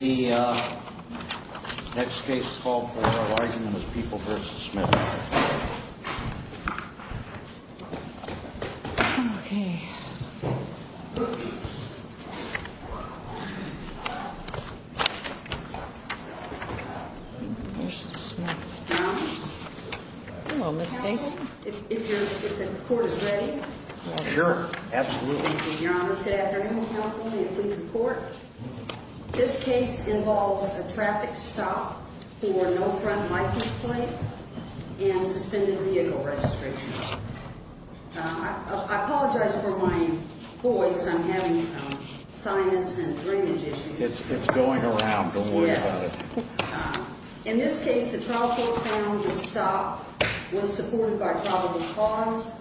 The next case is People v. Smith. If the court is ready? Sure, absolutely. Your Honor. Good afternoon, counsel. May it please the court. This case involves a traffic stop for no front license plate and suspended vehicle registration. I apologize for my voice. I'm having some sinus and drainage issues. It's going around. Don't worry about it. Yes. In this case, the trial court found the stop was supported by probable cause.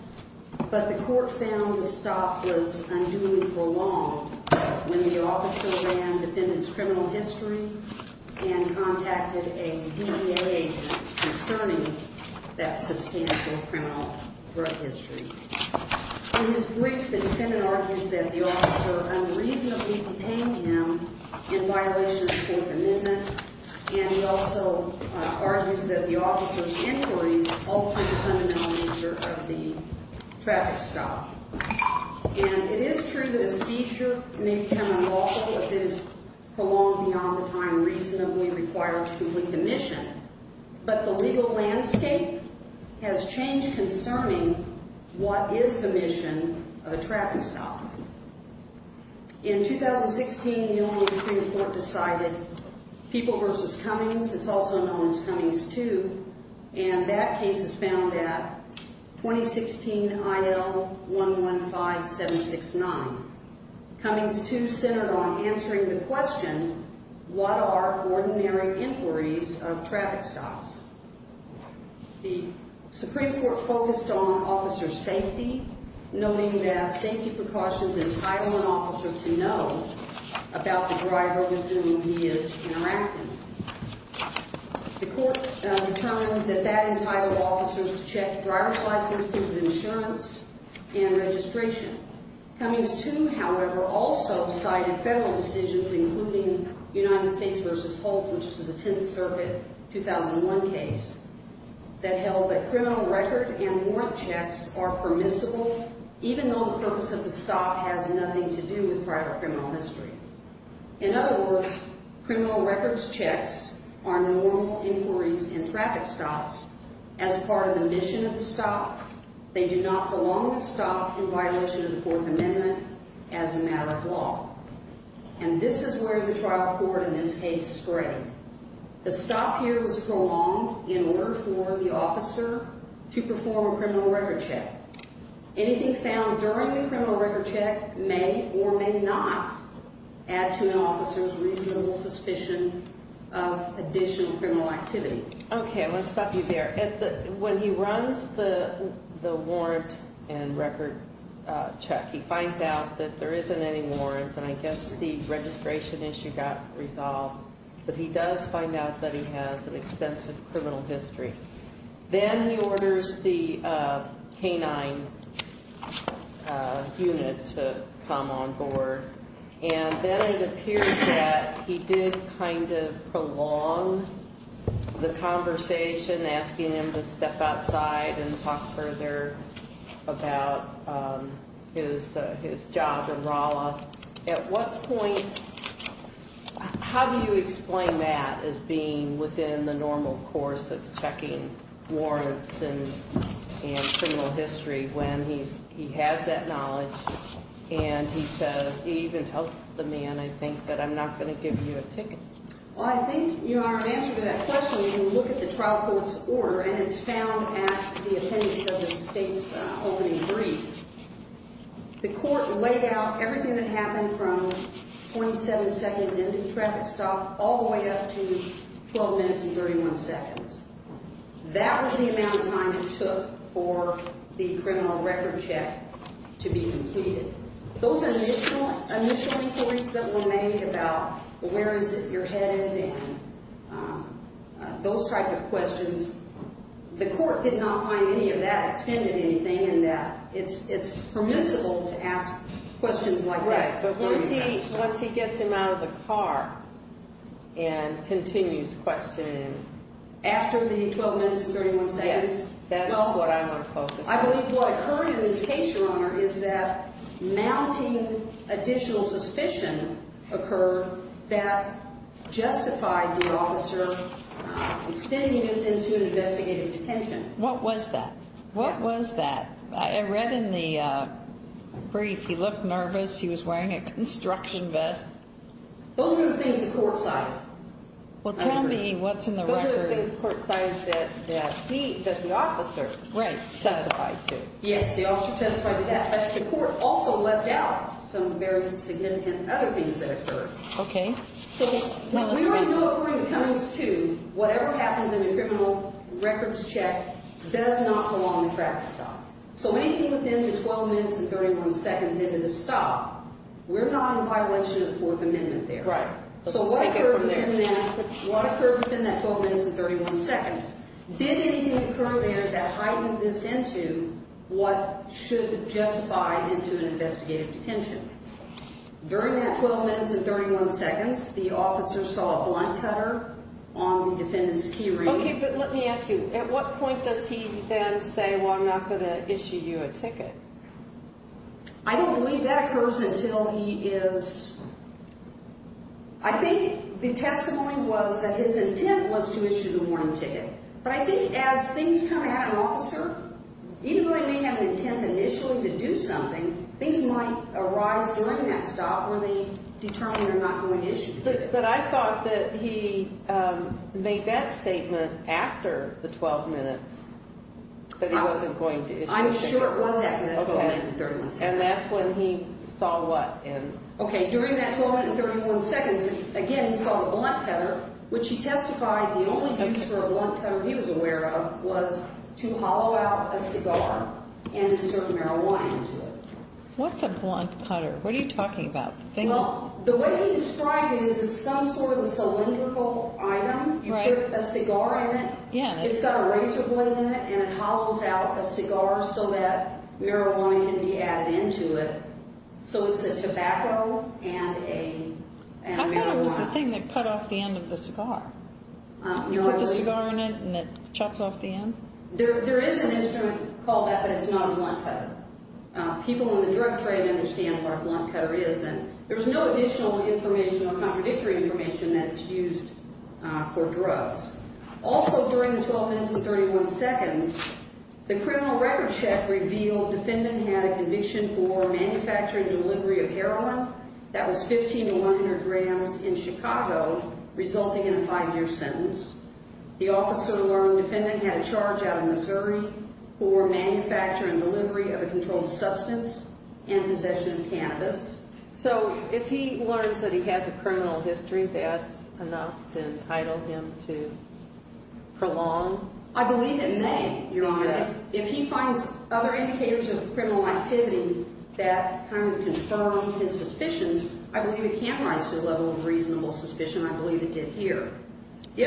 But the court found the stop was unduly prolonged when the officer ran the defendant's criminal history and contacted a DEA agent concerning that substantial criminal drug history. In his brief, the defendant argues that the officer unreasonably detained him in violation of the Fifth Amendment. And he also argues that the officer's inquiries altered the fundamental nature of the traffic stop. And it is true that a seizure may become unlawful if it is prolonged beyond the time reasonably required to complete the mission. But the legal landscape has changed concerning what is the mission of a traffic stop. In 2016, the only Supreme Court decided, People v. Cummings, it's also known as Cummings II, and that case is found at 2016 IL-115769. Cummings II centered on answering the question, what are ordinary inquiries of traffic stops? The Supreme Court focused on officer safety, noting that safety precautions entitle an officer to know about the driver with whom he is interacting. The court determined that that entitled officers to check driver's license, proof of insurance, and registration. Cummings II, however, also cited federal decisions, including United States v. Holt, which was the Tenth Circuit, 2001 case, that held that criminal record and warrant checks are permissible even though the purpose of the stop has nothing to do with private criminal history. In other words, criminal records checks are normal inquiries in traffic stops. As part of the mission of the stop, they do not belong to stop in violation of the Fourth Amendment as a matter of law. And this is where the trial court in this case strayed. The stop here was prolonged in order for the officer to perform a criminal record check. Anything found during the criminal record check may or may not add to an officer's reasonable suspicion of additional criminal activity. Okay, I'm going to stop you there. When he runs the warrant and record check, he finds out that there isn't any warrant, and I guess the registration issue got resolved, but he does find out that he has an extensive criminal history. Then he orders the canine unit to come on board, and then it appears that he did kind of ask him to step outside and talk further about his job in Rolla. At what point, how do you explain that as being within the normal course of checking warrants and criminal history when he has that knowledge and he says, he even tells the man, I think, that I'm not going to give you a ticket. Well, I think your answer to that question, when you look at the trial court's order, and it's found at the appendix of the state's opening brief, the court laid out everything that happened from 27 seconds into traffic stop all the way up to 12 minutes and 31 seconds. That was the amount of time it took for the criminal record check to be completed. Those initial reports that were made about where is it you're headed and those type of questions, the court did not find any of that extended anything in that it's permissible to ask questions like that. Right, but once he gets him out of the car and continues questioning him. After the 12 minutes and 31 seconds? Yes, that's what I want to focus on. I believe what occurred in this case, Your Honor, is that mounting additional suspicion occurred that justified the officer extending this into an investigative detention. What was that? What was that? I read in the brief he looked nervous. He was wearing a construction vest. Those were the things the court cited. Well, tell me what's in the record. What I'm trying to say is the court cited that the officer testified to. Yes, the officer testified to that, but the court also left out some very significant other things that occurred. Okay. We already know according to Counties 2, whatever happens in the criminal records check does not go on the traffic stop. So anything within the 12 minutes and 31 seconds into the stop, we're not in violation of Fourth Amendment there. Right. So what occurred within that 12 minutes and 31 seconds? Did anything occur there that heightened this into what should justify into an investigative detention? During that 12 minutes and 31 seconds, the officer saw a blunt cutter on the defendant's key ring. Okay, but let me ask you, at what point does he then say, well, I'm not going to issue you a ticket? I don't believe that occurs until he is, I think the testimony was that his intent was to issue the warning ticket. But I think as things come at an officer, even though he may have an intent initially to do something, things might arise during that stop where they determine they're not going to issue the ticket. But I thought that he made that statement after the 12 minutes that he wasn't going to issue the ticket. I'm sure it was after that 12 minutes and 31 seconds. And that's when he saw what? Okay, during that 12 minutes and 31 seconds, again, he saw the blunt cutter, which he testified the only use for a blunt cutter he was aware of was to hollow out a cigar and insert marijuana into it. What's a blunt cutter? What are you talking about? Well, the way he described it is it's some sort of a cylindrical item. You put a cigar in it. It's got a razor blade in it, and it hollows out a cigar so that marijuana can be added into it. So it's a tobacco and a marijuana. I thought it was the thing that cut off the end of the cigar. You put the cigar in it, and it chops off the end? There is an instrument called that, but it's not a blunt cutter. People in the drug trade understand what a blunt cutter is, and there's no additional information or contradictory information that's used for drugs. Also, during the 12 minutes and 31 seconds, the criminal record check revealed the defendant had a conviction for manufacturing and delivery of heroin that was 15 and 100 grams in Chicago, resulting in a five-year sentence. The officer learned the defendant had a charge out of Missouri for manufacturing and delivery of a controlled substance and possession of cannabis. So if he learns that he has a criminal history, that's enough to entitle him to prolong? I believe it may, Your Honor. If he finds other indicators of criminal activity that kind of confirm his suspicions, I believe it can rise to the level of reasonable suspicion. I believe it did here. So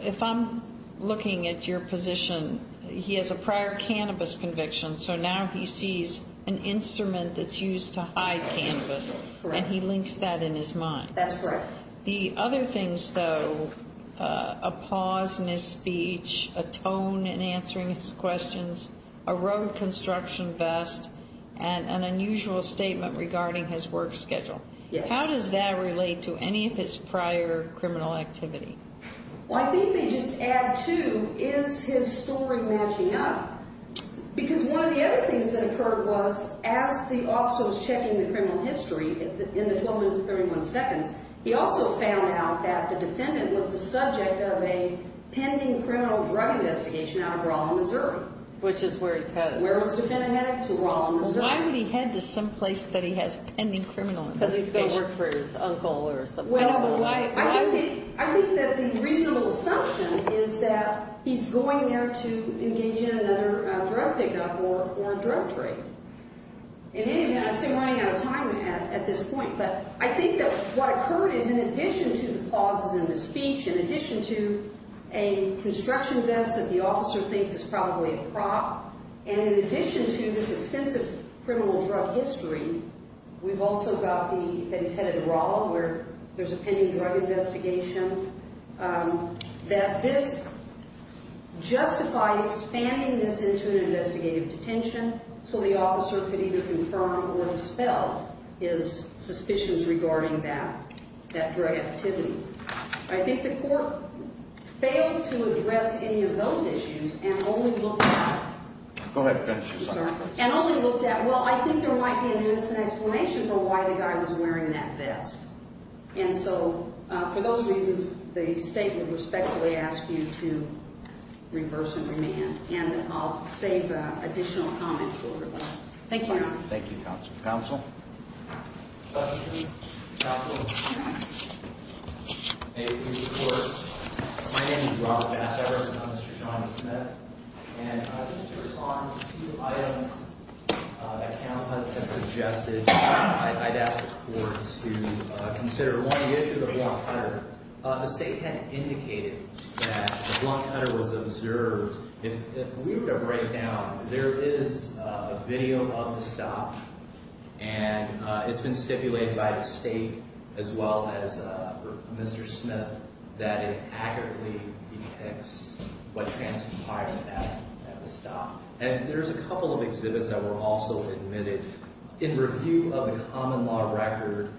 if I'm looking at your position, he has a prior cannabis conviction, so now he sees an instrument that's used to hide cannabis, and he links that in his mind. That's correct. The other things, though, a pause in his speech, a tone in answering his questions, a road construction vest, and an unusual statement regarding his work schedule. How does that relate to any of his prior criminal activity? Well, I think they just add to, is his story matching up? Because one of the other things that occurred was, as the officer was checking the criminal history in the 12 minutes and 31 seconds, he also found out that the defendant was the subject of a pending criminal drug investigation out of Rolla, Missouri. Which is where he's headed. Where his defendant headed, to Rolla, Missouri. Why would he head to some place that he has a pending criminal investigation? Because he's going to work for his uncle or something. Well, I think that the reasonable assumption is that he's going there to engage in another drug pickup or drug trade. In any event, I seem running out of time at this point, but I think that what occurred is, in addition to the pauses in the speech, in addition to a construction vest that the officer thinks is probably a prop, and in addition to this extensive criminal drug history, we've also got the, that he's headed to Rolla, where there's a pending drug investigation. That this justified expanding this into an investigative detention, so the officer could either confirm or dispel his suspicions regarding that drug activity. I think the court failed to address any of those issues, and only looked at... Go ahead. Finish your sentence. And only looked at, well, I think there might be an innocent explanation for why the guy was wearing that vest. And so, for those reasons, the state would respectfully ask you to reverse and remand. And I'll save additional comments for everybody. Thank you, Your Honor. Thank you, Counsel. Counsel? Judges? Counsel? May we have your support? My name is Rob Bass. I represent Mr. John Smith. And just to respond to two items that counsel has suggested, I'd ask the court to consider. One, the issue of the blunt cutter. The state had indicated that the blunt cutter was observed. If we were to break down, there is a video of the stop. And it's been stipulated by the state, as well as Mr. Smith, that it accurately depicts what transpired at the stop. And there's a couple of exhibits that were also admitted. In review of the common law record,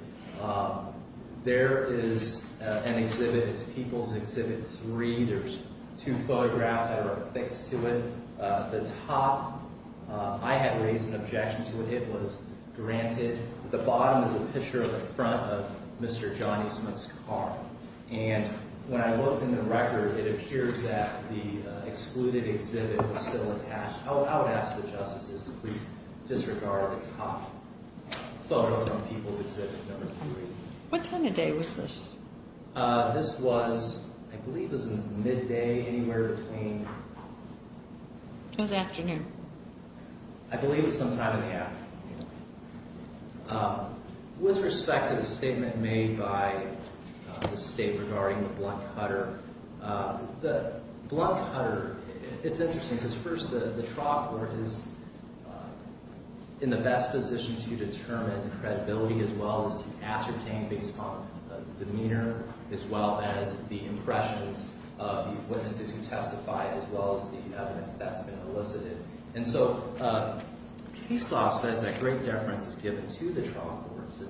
there is an exhibit. It's People's Exhibit 3. There's two photographs that are affixed to it. The top, I had raised an objection to it. It was granted. The bottom is a picture of the front of Mr. Johnny Smith's car. And when I look in the record, it appears that the excluded exhibit was still attached. I would ask the justices to please disregard the top photo from People's Exhibit number 3. What time of day was this? This was, I believe it was midday, anywhere between— It was afternoon. I believe it was sometime in the afternoon. With respect to the statement made by the state regarding the blunt cutter, the blunt cutter, it's interesting because, first, the trial court is in the best position to determine credibility as well as to ascertain based upon demeanor as well as the impressions of the witnesses who testified as well as the evidence that's been elicited. And so Caseloff says that great deference is given to the trial courts.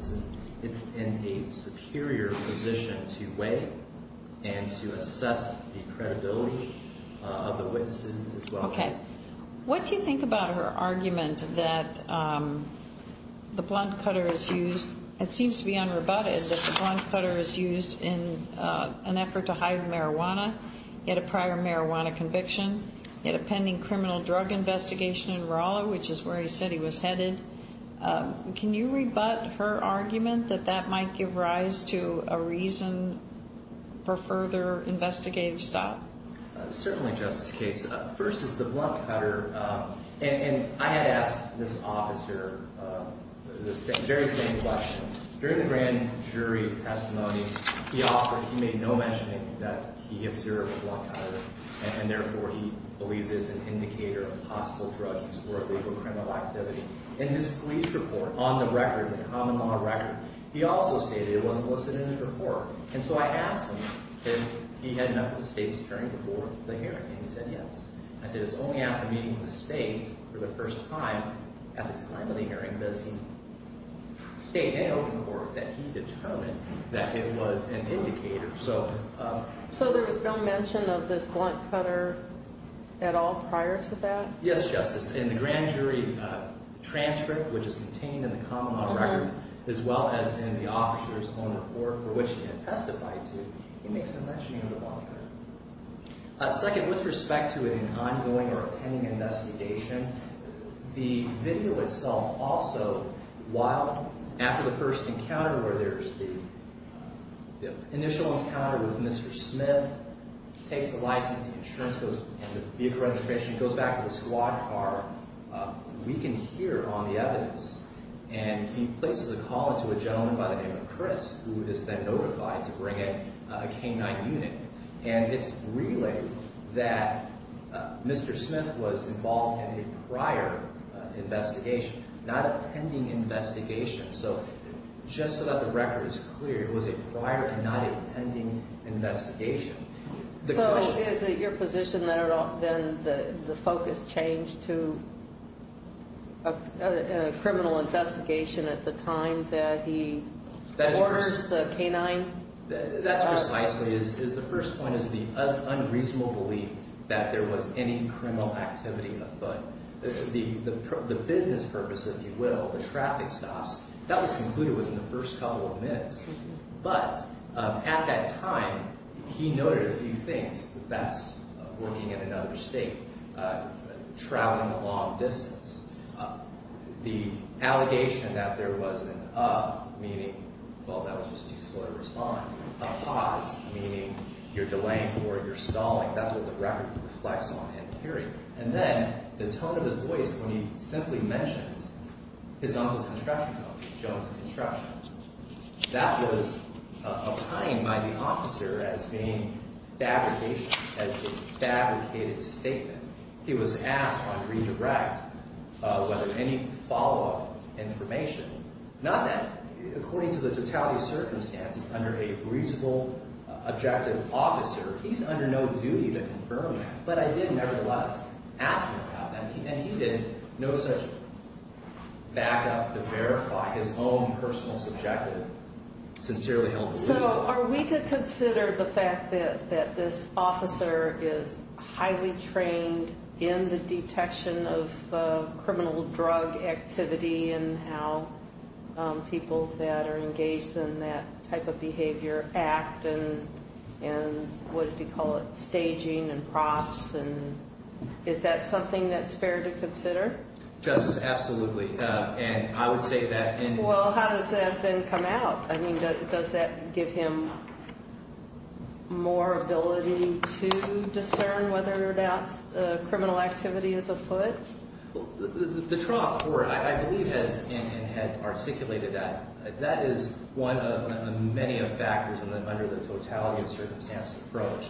It's in a superior position to weigh and to assess the credibility of the witnesses as well as— The blunt cutter is used. It seems to be unrebutted that the blunt cutter is used in an effort to hide marijuana. He had a prior marijuana conviction. He had a pending criminal drug investigation in Rolla, which is where he said he was headed. Can you rebut her argument that that might give rise to a reason for further investigative stop? Certainly, Justice Cates. First is the blunt cutter. And I had asked this officer the very same question. During the grand jury testimony, the officer, he made no mentioning that he observed a blunt cutter, and therefore he believes it's an indicator of possible drug use or illegal criminal activity. In his police report, on the record, the common law record, he also stated it wasn't listed in his report. And so I asked him if he had met with the state's attorney before the hearing, and he said yes. I said it's only after meeting with the state for the first time at the time of the hearing does he state in open court that he determined that it was an indicator. So there was no mention of this blunt cutter at all prior to that? Yes, Justice. In the grand jury transcript, which is contained in the common law record, as well as in the officer's own report, for which he had testified to, he makes no mention of the blunt cutter. Second, with respect to an ongoing or pending investigation, the video itself also, while after the first encounter where there's the initial encounter with Mr. Smith, Mr. Smith takes the license, the insurance goes, the vehicle registration goes back to the squad car, we can hear on the evidence. And he places a call into a gentleman by the name of Chris, who is then notified to bring a K-9 unit. And it's relayed that Mr. Smith was involved in a prior investigation, not a pending investigation. So just so that the record is clear, it was a prior and not a pending investigation. So is it your position that the focus changed to a criminal investigation at the time that he orders the K-9? That's precisely it. The first point is the unreasonable belief that there was any criminal activity afoot. The business purpose, if you will, the traffic stops, that was concluded within the first couple of minutes. But at that time, he noted a few things. That's working in another state, traveling a long distance. The allegation that there was an uh, meaning, well, that was just too slow to respond. A pause, meaning you're delaying for it, you're stalling. That's what the record reflects on and carried. And then the tone of his voice when he simply mentions his uncle's construction company, Jones Construction. That was opined by the officer as being fabrication, as a fabricated statement. He was asked on redirect whether any follow-up information. Not that, according to the totality of circumstances, under a reasonable, objective officer, he's under no duty to confirm that. But I did, nevertheless, ask him about that. And he did no such backup to verify his own personal, subjective, sincerely held belief. So are we to consider the fact that this officer is highly trained in the detection of criminal drug activity and how people that are engaged in that type of behavior act? And what did he call it, staging and props? And is that something that's fair to consider? Justice, absolutely. And I would state that. Well, how does that then come out? I mean, does that give him more ability to discern whether or not criminal activity is afoot? The trial court, I believe, has articulated that. That is one of many factors under the totality of circumstances approach.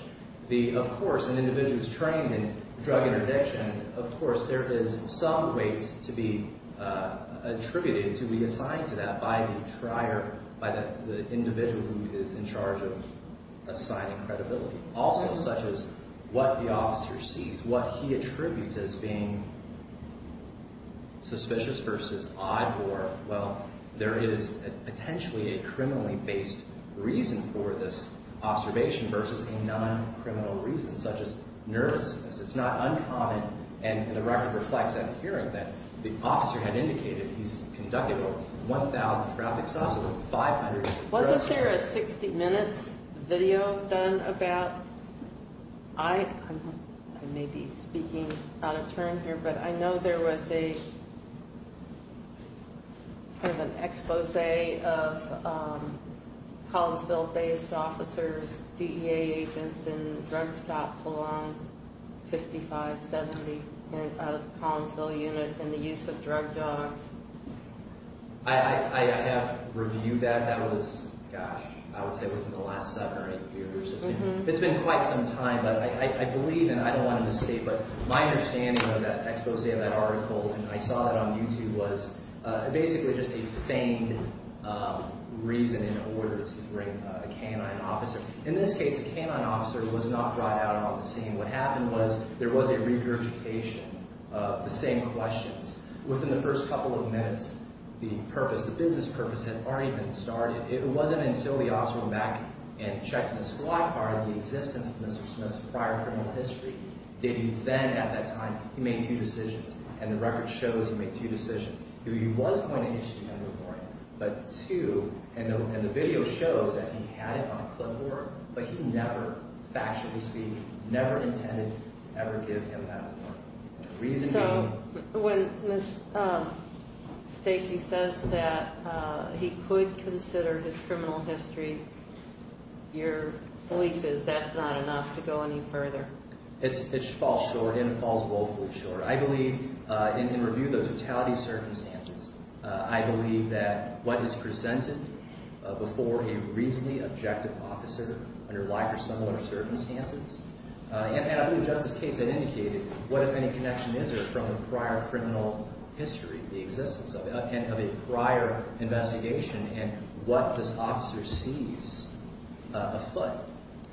Of course, an individual is trained in drug interdiction. Of course, there is some weight to be attributed, to be assigned to that by the individual who is in charge of assigning credibility. Also, such as what the officer sees, what he attributes as being suspicious versus odd, or, well, there is potentially a criminally-based reason for this observation versus a non-criminal reason, such as nervousness. It's not uncommon. And the record reflects that hearing that the officer had indicated he's conducted over 1,000 traffic stops, over 500 arrests. Wasn't there a 60 Minutes video done about—I may be speaking out of turn here, but I know there was a kind of an expose of Collinsville-based officers, DEA agents, in drug stops along 5570 out of the Collinsville unit in the use of drug dogs. I have reviewed that. That was, gosh, I would say within the last seven or eight years. It's been quite some time, but I believe, and I don't want to misstate, but my understanding of that expose of that article, and I saw it on YouTube, was basically just a feigned reason in order to bring a canine officer. In this case, a canine officer was not brought out on the scene. What happened was there was a regurgitation of the same questions. Within the first couple of minutes, the purpose, the business purpose had already been started. It wasn't until the officer went back and checked in the squad car and the existence of Mr. Smith's prior criminal history did he then, at that time, he made two decisions. And the record shows he made two decisions. One, he was going to issue him a warrant, but two, and the video shows that he had it on clipboard, but he never, factually speaking, never intended to ever give him that warrant. So when Stacy says that he could consider his criminal history, your belief is that's not enough to go any further? It falls short, and it falls woefully short. I believe, in review of the totality of circumstances, I believe that what is presented before a reasonably objective officer under like or similar circumstances, and I believe Justice Case had indicated what, if any, connection is there from the prior criminal history, the existence of it, and of a prior investigation, and what this officer sees afoot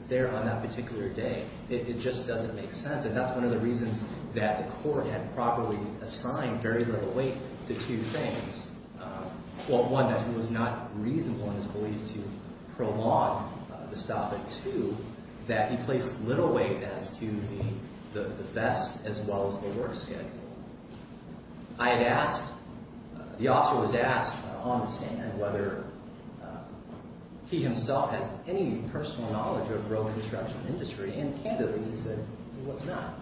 there on that particular day. It just doesn't make sense, and that's one of the reasons that the court had properly assigned very little weight to two things. Well, one, that it was not reasonable in his belief to prolong the stop at two, that he placed little weight as to the vest as well as the work schedule. I had asked, the officer was asked on the stand whether he himself has any personal knowledge of road construction industry, and candidly, he said he was not.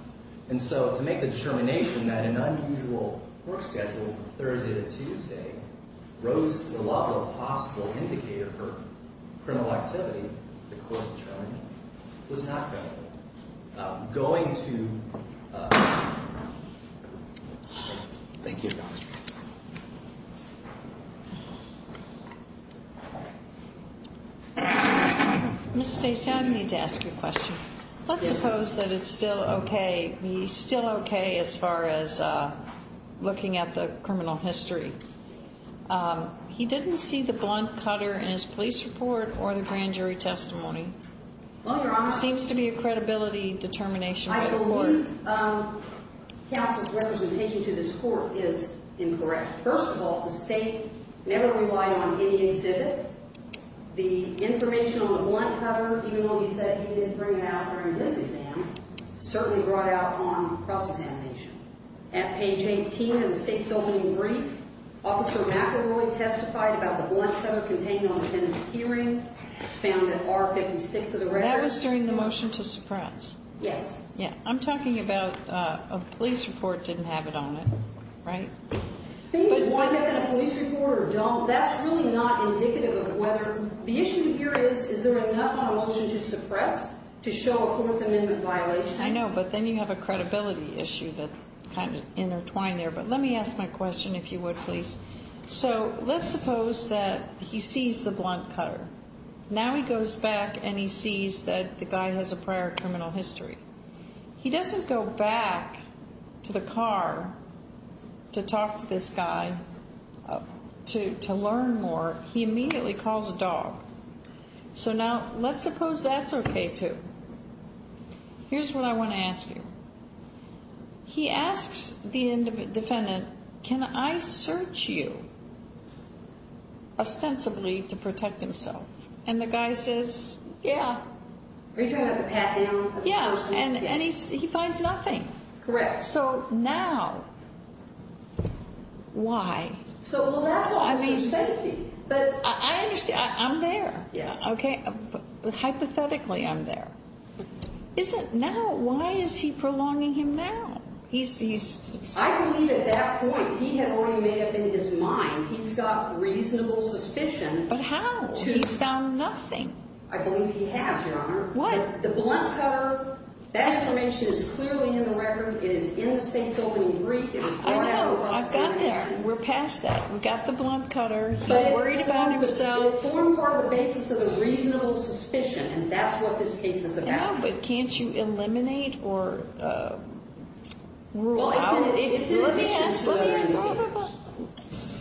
And so to make the determination that an unusual work schedule, Thursday to Tuesday, rose to the level of possible indicator for criminal activity, the court determined, was not going to. Going to. Thank you, Your Honor. Ms. Stacy, I need to ask you a question. Let's suppose that it's still okay. He's still okay as far as looking at the criminal history. He didn't see the blunt cutter in his police report or the grand jury testimony. Well, Your Honor. Seems to be a credibility determination by the court. I believe Cass's representation to this court is incorrect. First of all, the state never relied on any exhibit. The information on the blunt cutter, even though he said he didn't bring it out during his exam, certainly brought out on cross-examination. At page 18 of the state's opening brief, Officer McElroy testified about the blunt cutter contained on the defendant's key ring. It's found at R56 of the record. That was during the motion to suppress. Yes. Yeah. I'm talking about a police report didn't have it on it, right? Things that wind up in a police report or don't, that's really not indicative of whether. The issue here is, is there enough on a motion to suppress to show a Fourth Amendment violation? I know, but then you have a credibility issue that's kind of intertwined there. But let me ask my question, if you would, please. So, let's suppose that he sees the blunt cutter. Now he goes back and he sees that the guy has a prior criminal history. He doesn't go back to the car to talk to this guy to learn more. He immediately calls a dog. So now, let's suppose that's okay, too. Here's what I want to ask you. He asks the defendant, can I search you ostensibly to protect himself? And the guy says, yeah. Are you talking about the pat down? Yeah. And he finds nothing. Correct. So now, why? Well, that's also safety. I understand. I'm there. Yes. Okay. Hypothetically, I'm there. Why is he prolonging him now? I believe at that point, he had already made up in his mind, he's got reasonable suspicion. But how? He's found nothing. I believe he has, Your Honor. What? The blunt cutter, that information is clearly in the record. It is in the state's opening brief. I know. I've got that. We're past that. We've got the blunt cutter. He's worried about himself. But it formed part of the basis of a reasonable suspicion, and that's what this case is about. Yeah, but can't you eliminate or rule out? Let me ask. Let me ask. Wait, wait, wait.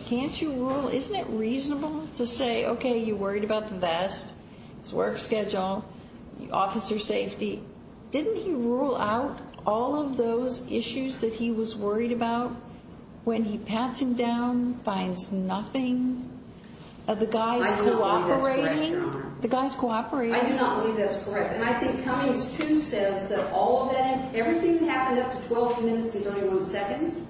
Can't you rule? Isn't it reasonable to say, okay, you're worried about the vest, his work schedule, officer safety. Didn't he rule out all of those issues that he was worried about when he pats him down, finds nothing? I do not believe that's correct, Your Honor. The guy's cooperating. I do not believe that's correct. And I think Cummings, too, says that all of that, everything that happened up to 12 minutes and 31 seconds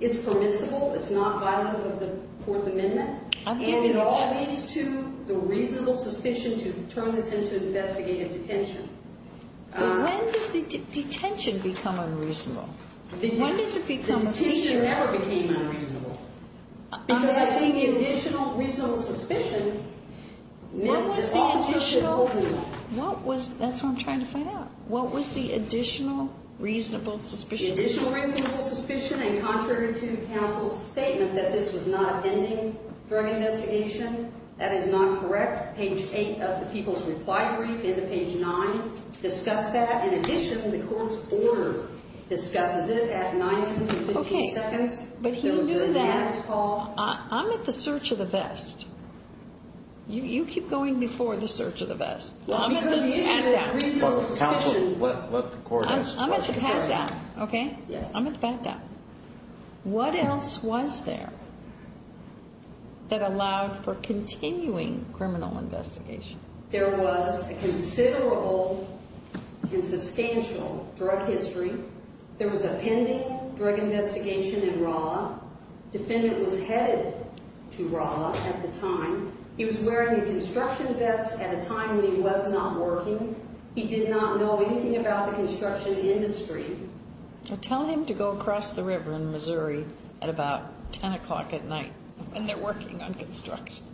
is permissible. It's not violent of the Fourth Amendment. And it all leads to the reasonable suspicion to turn this into investigative detention. When does the detention become unreasonable? When does it become a seizure? The detention never became unreasonable. Because I think the additional reasonable suspicion meant that officers should hold him. What was the additional? That's what I'm trying to find out. What was the additional reasonable suspicion? The additional reasonable suspicion and contrary to counsel's statement that this was not pending drug investigation, that is not correct. Page 8 of the people's reply brief into page 9 discuss that. In addition, the court's order discusses it at 9 minutes and 15 seconds. Okay, but he knew that. I'm at the search of the vest. You keep going before the search of the vest. Because the issue is reasonable suspicion. Counsel, let the court answer the question. I'm going to pat that. Okay? I'm going to pat that. What else was there that allowed for continuing criminal investigation? There was a considerable and substantial drug history. There was a pending drug investigation in Rolla. Defendant was headed to Rolla at the time. He was wearing a construction vest at a time when he was not working. He did not know anything about the construction industry. Tell him to go across the river in Missouri at about 10 o'clock at night when they're working on construction.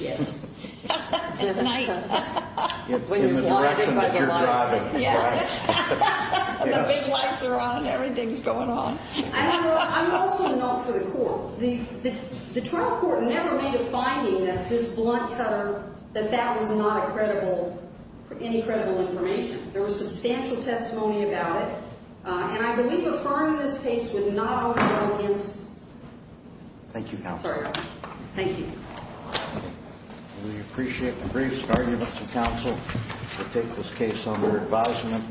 Yes. At night. In the direction that you're driving. Yeah. The big lights are on. Everything's going on. I'm also not for the court. The trial court never made a finding that this blunt cutter, that that was not a credible, any credible information. There was substantial testimony about it. And I believe affirming this case would not only go against. Thank you, counsel. Sorry. Thank you. We appreciate the brief arguments of counsel to take this case under advisement.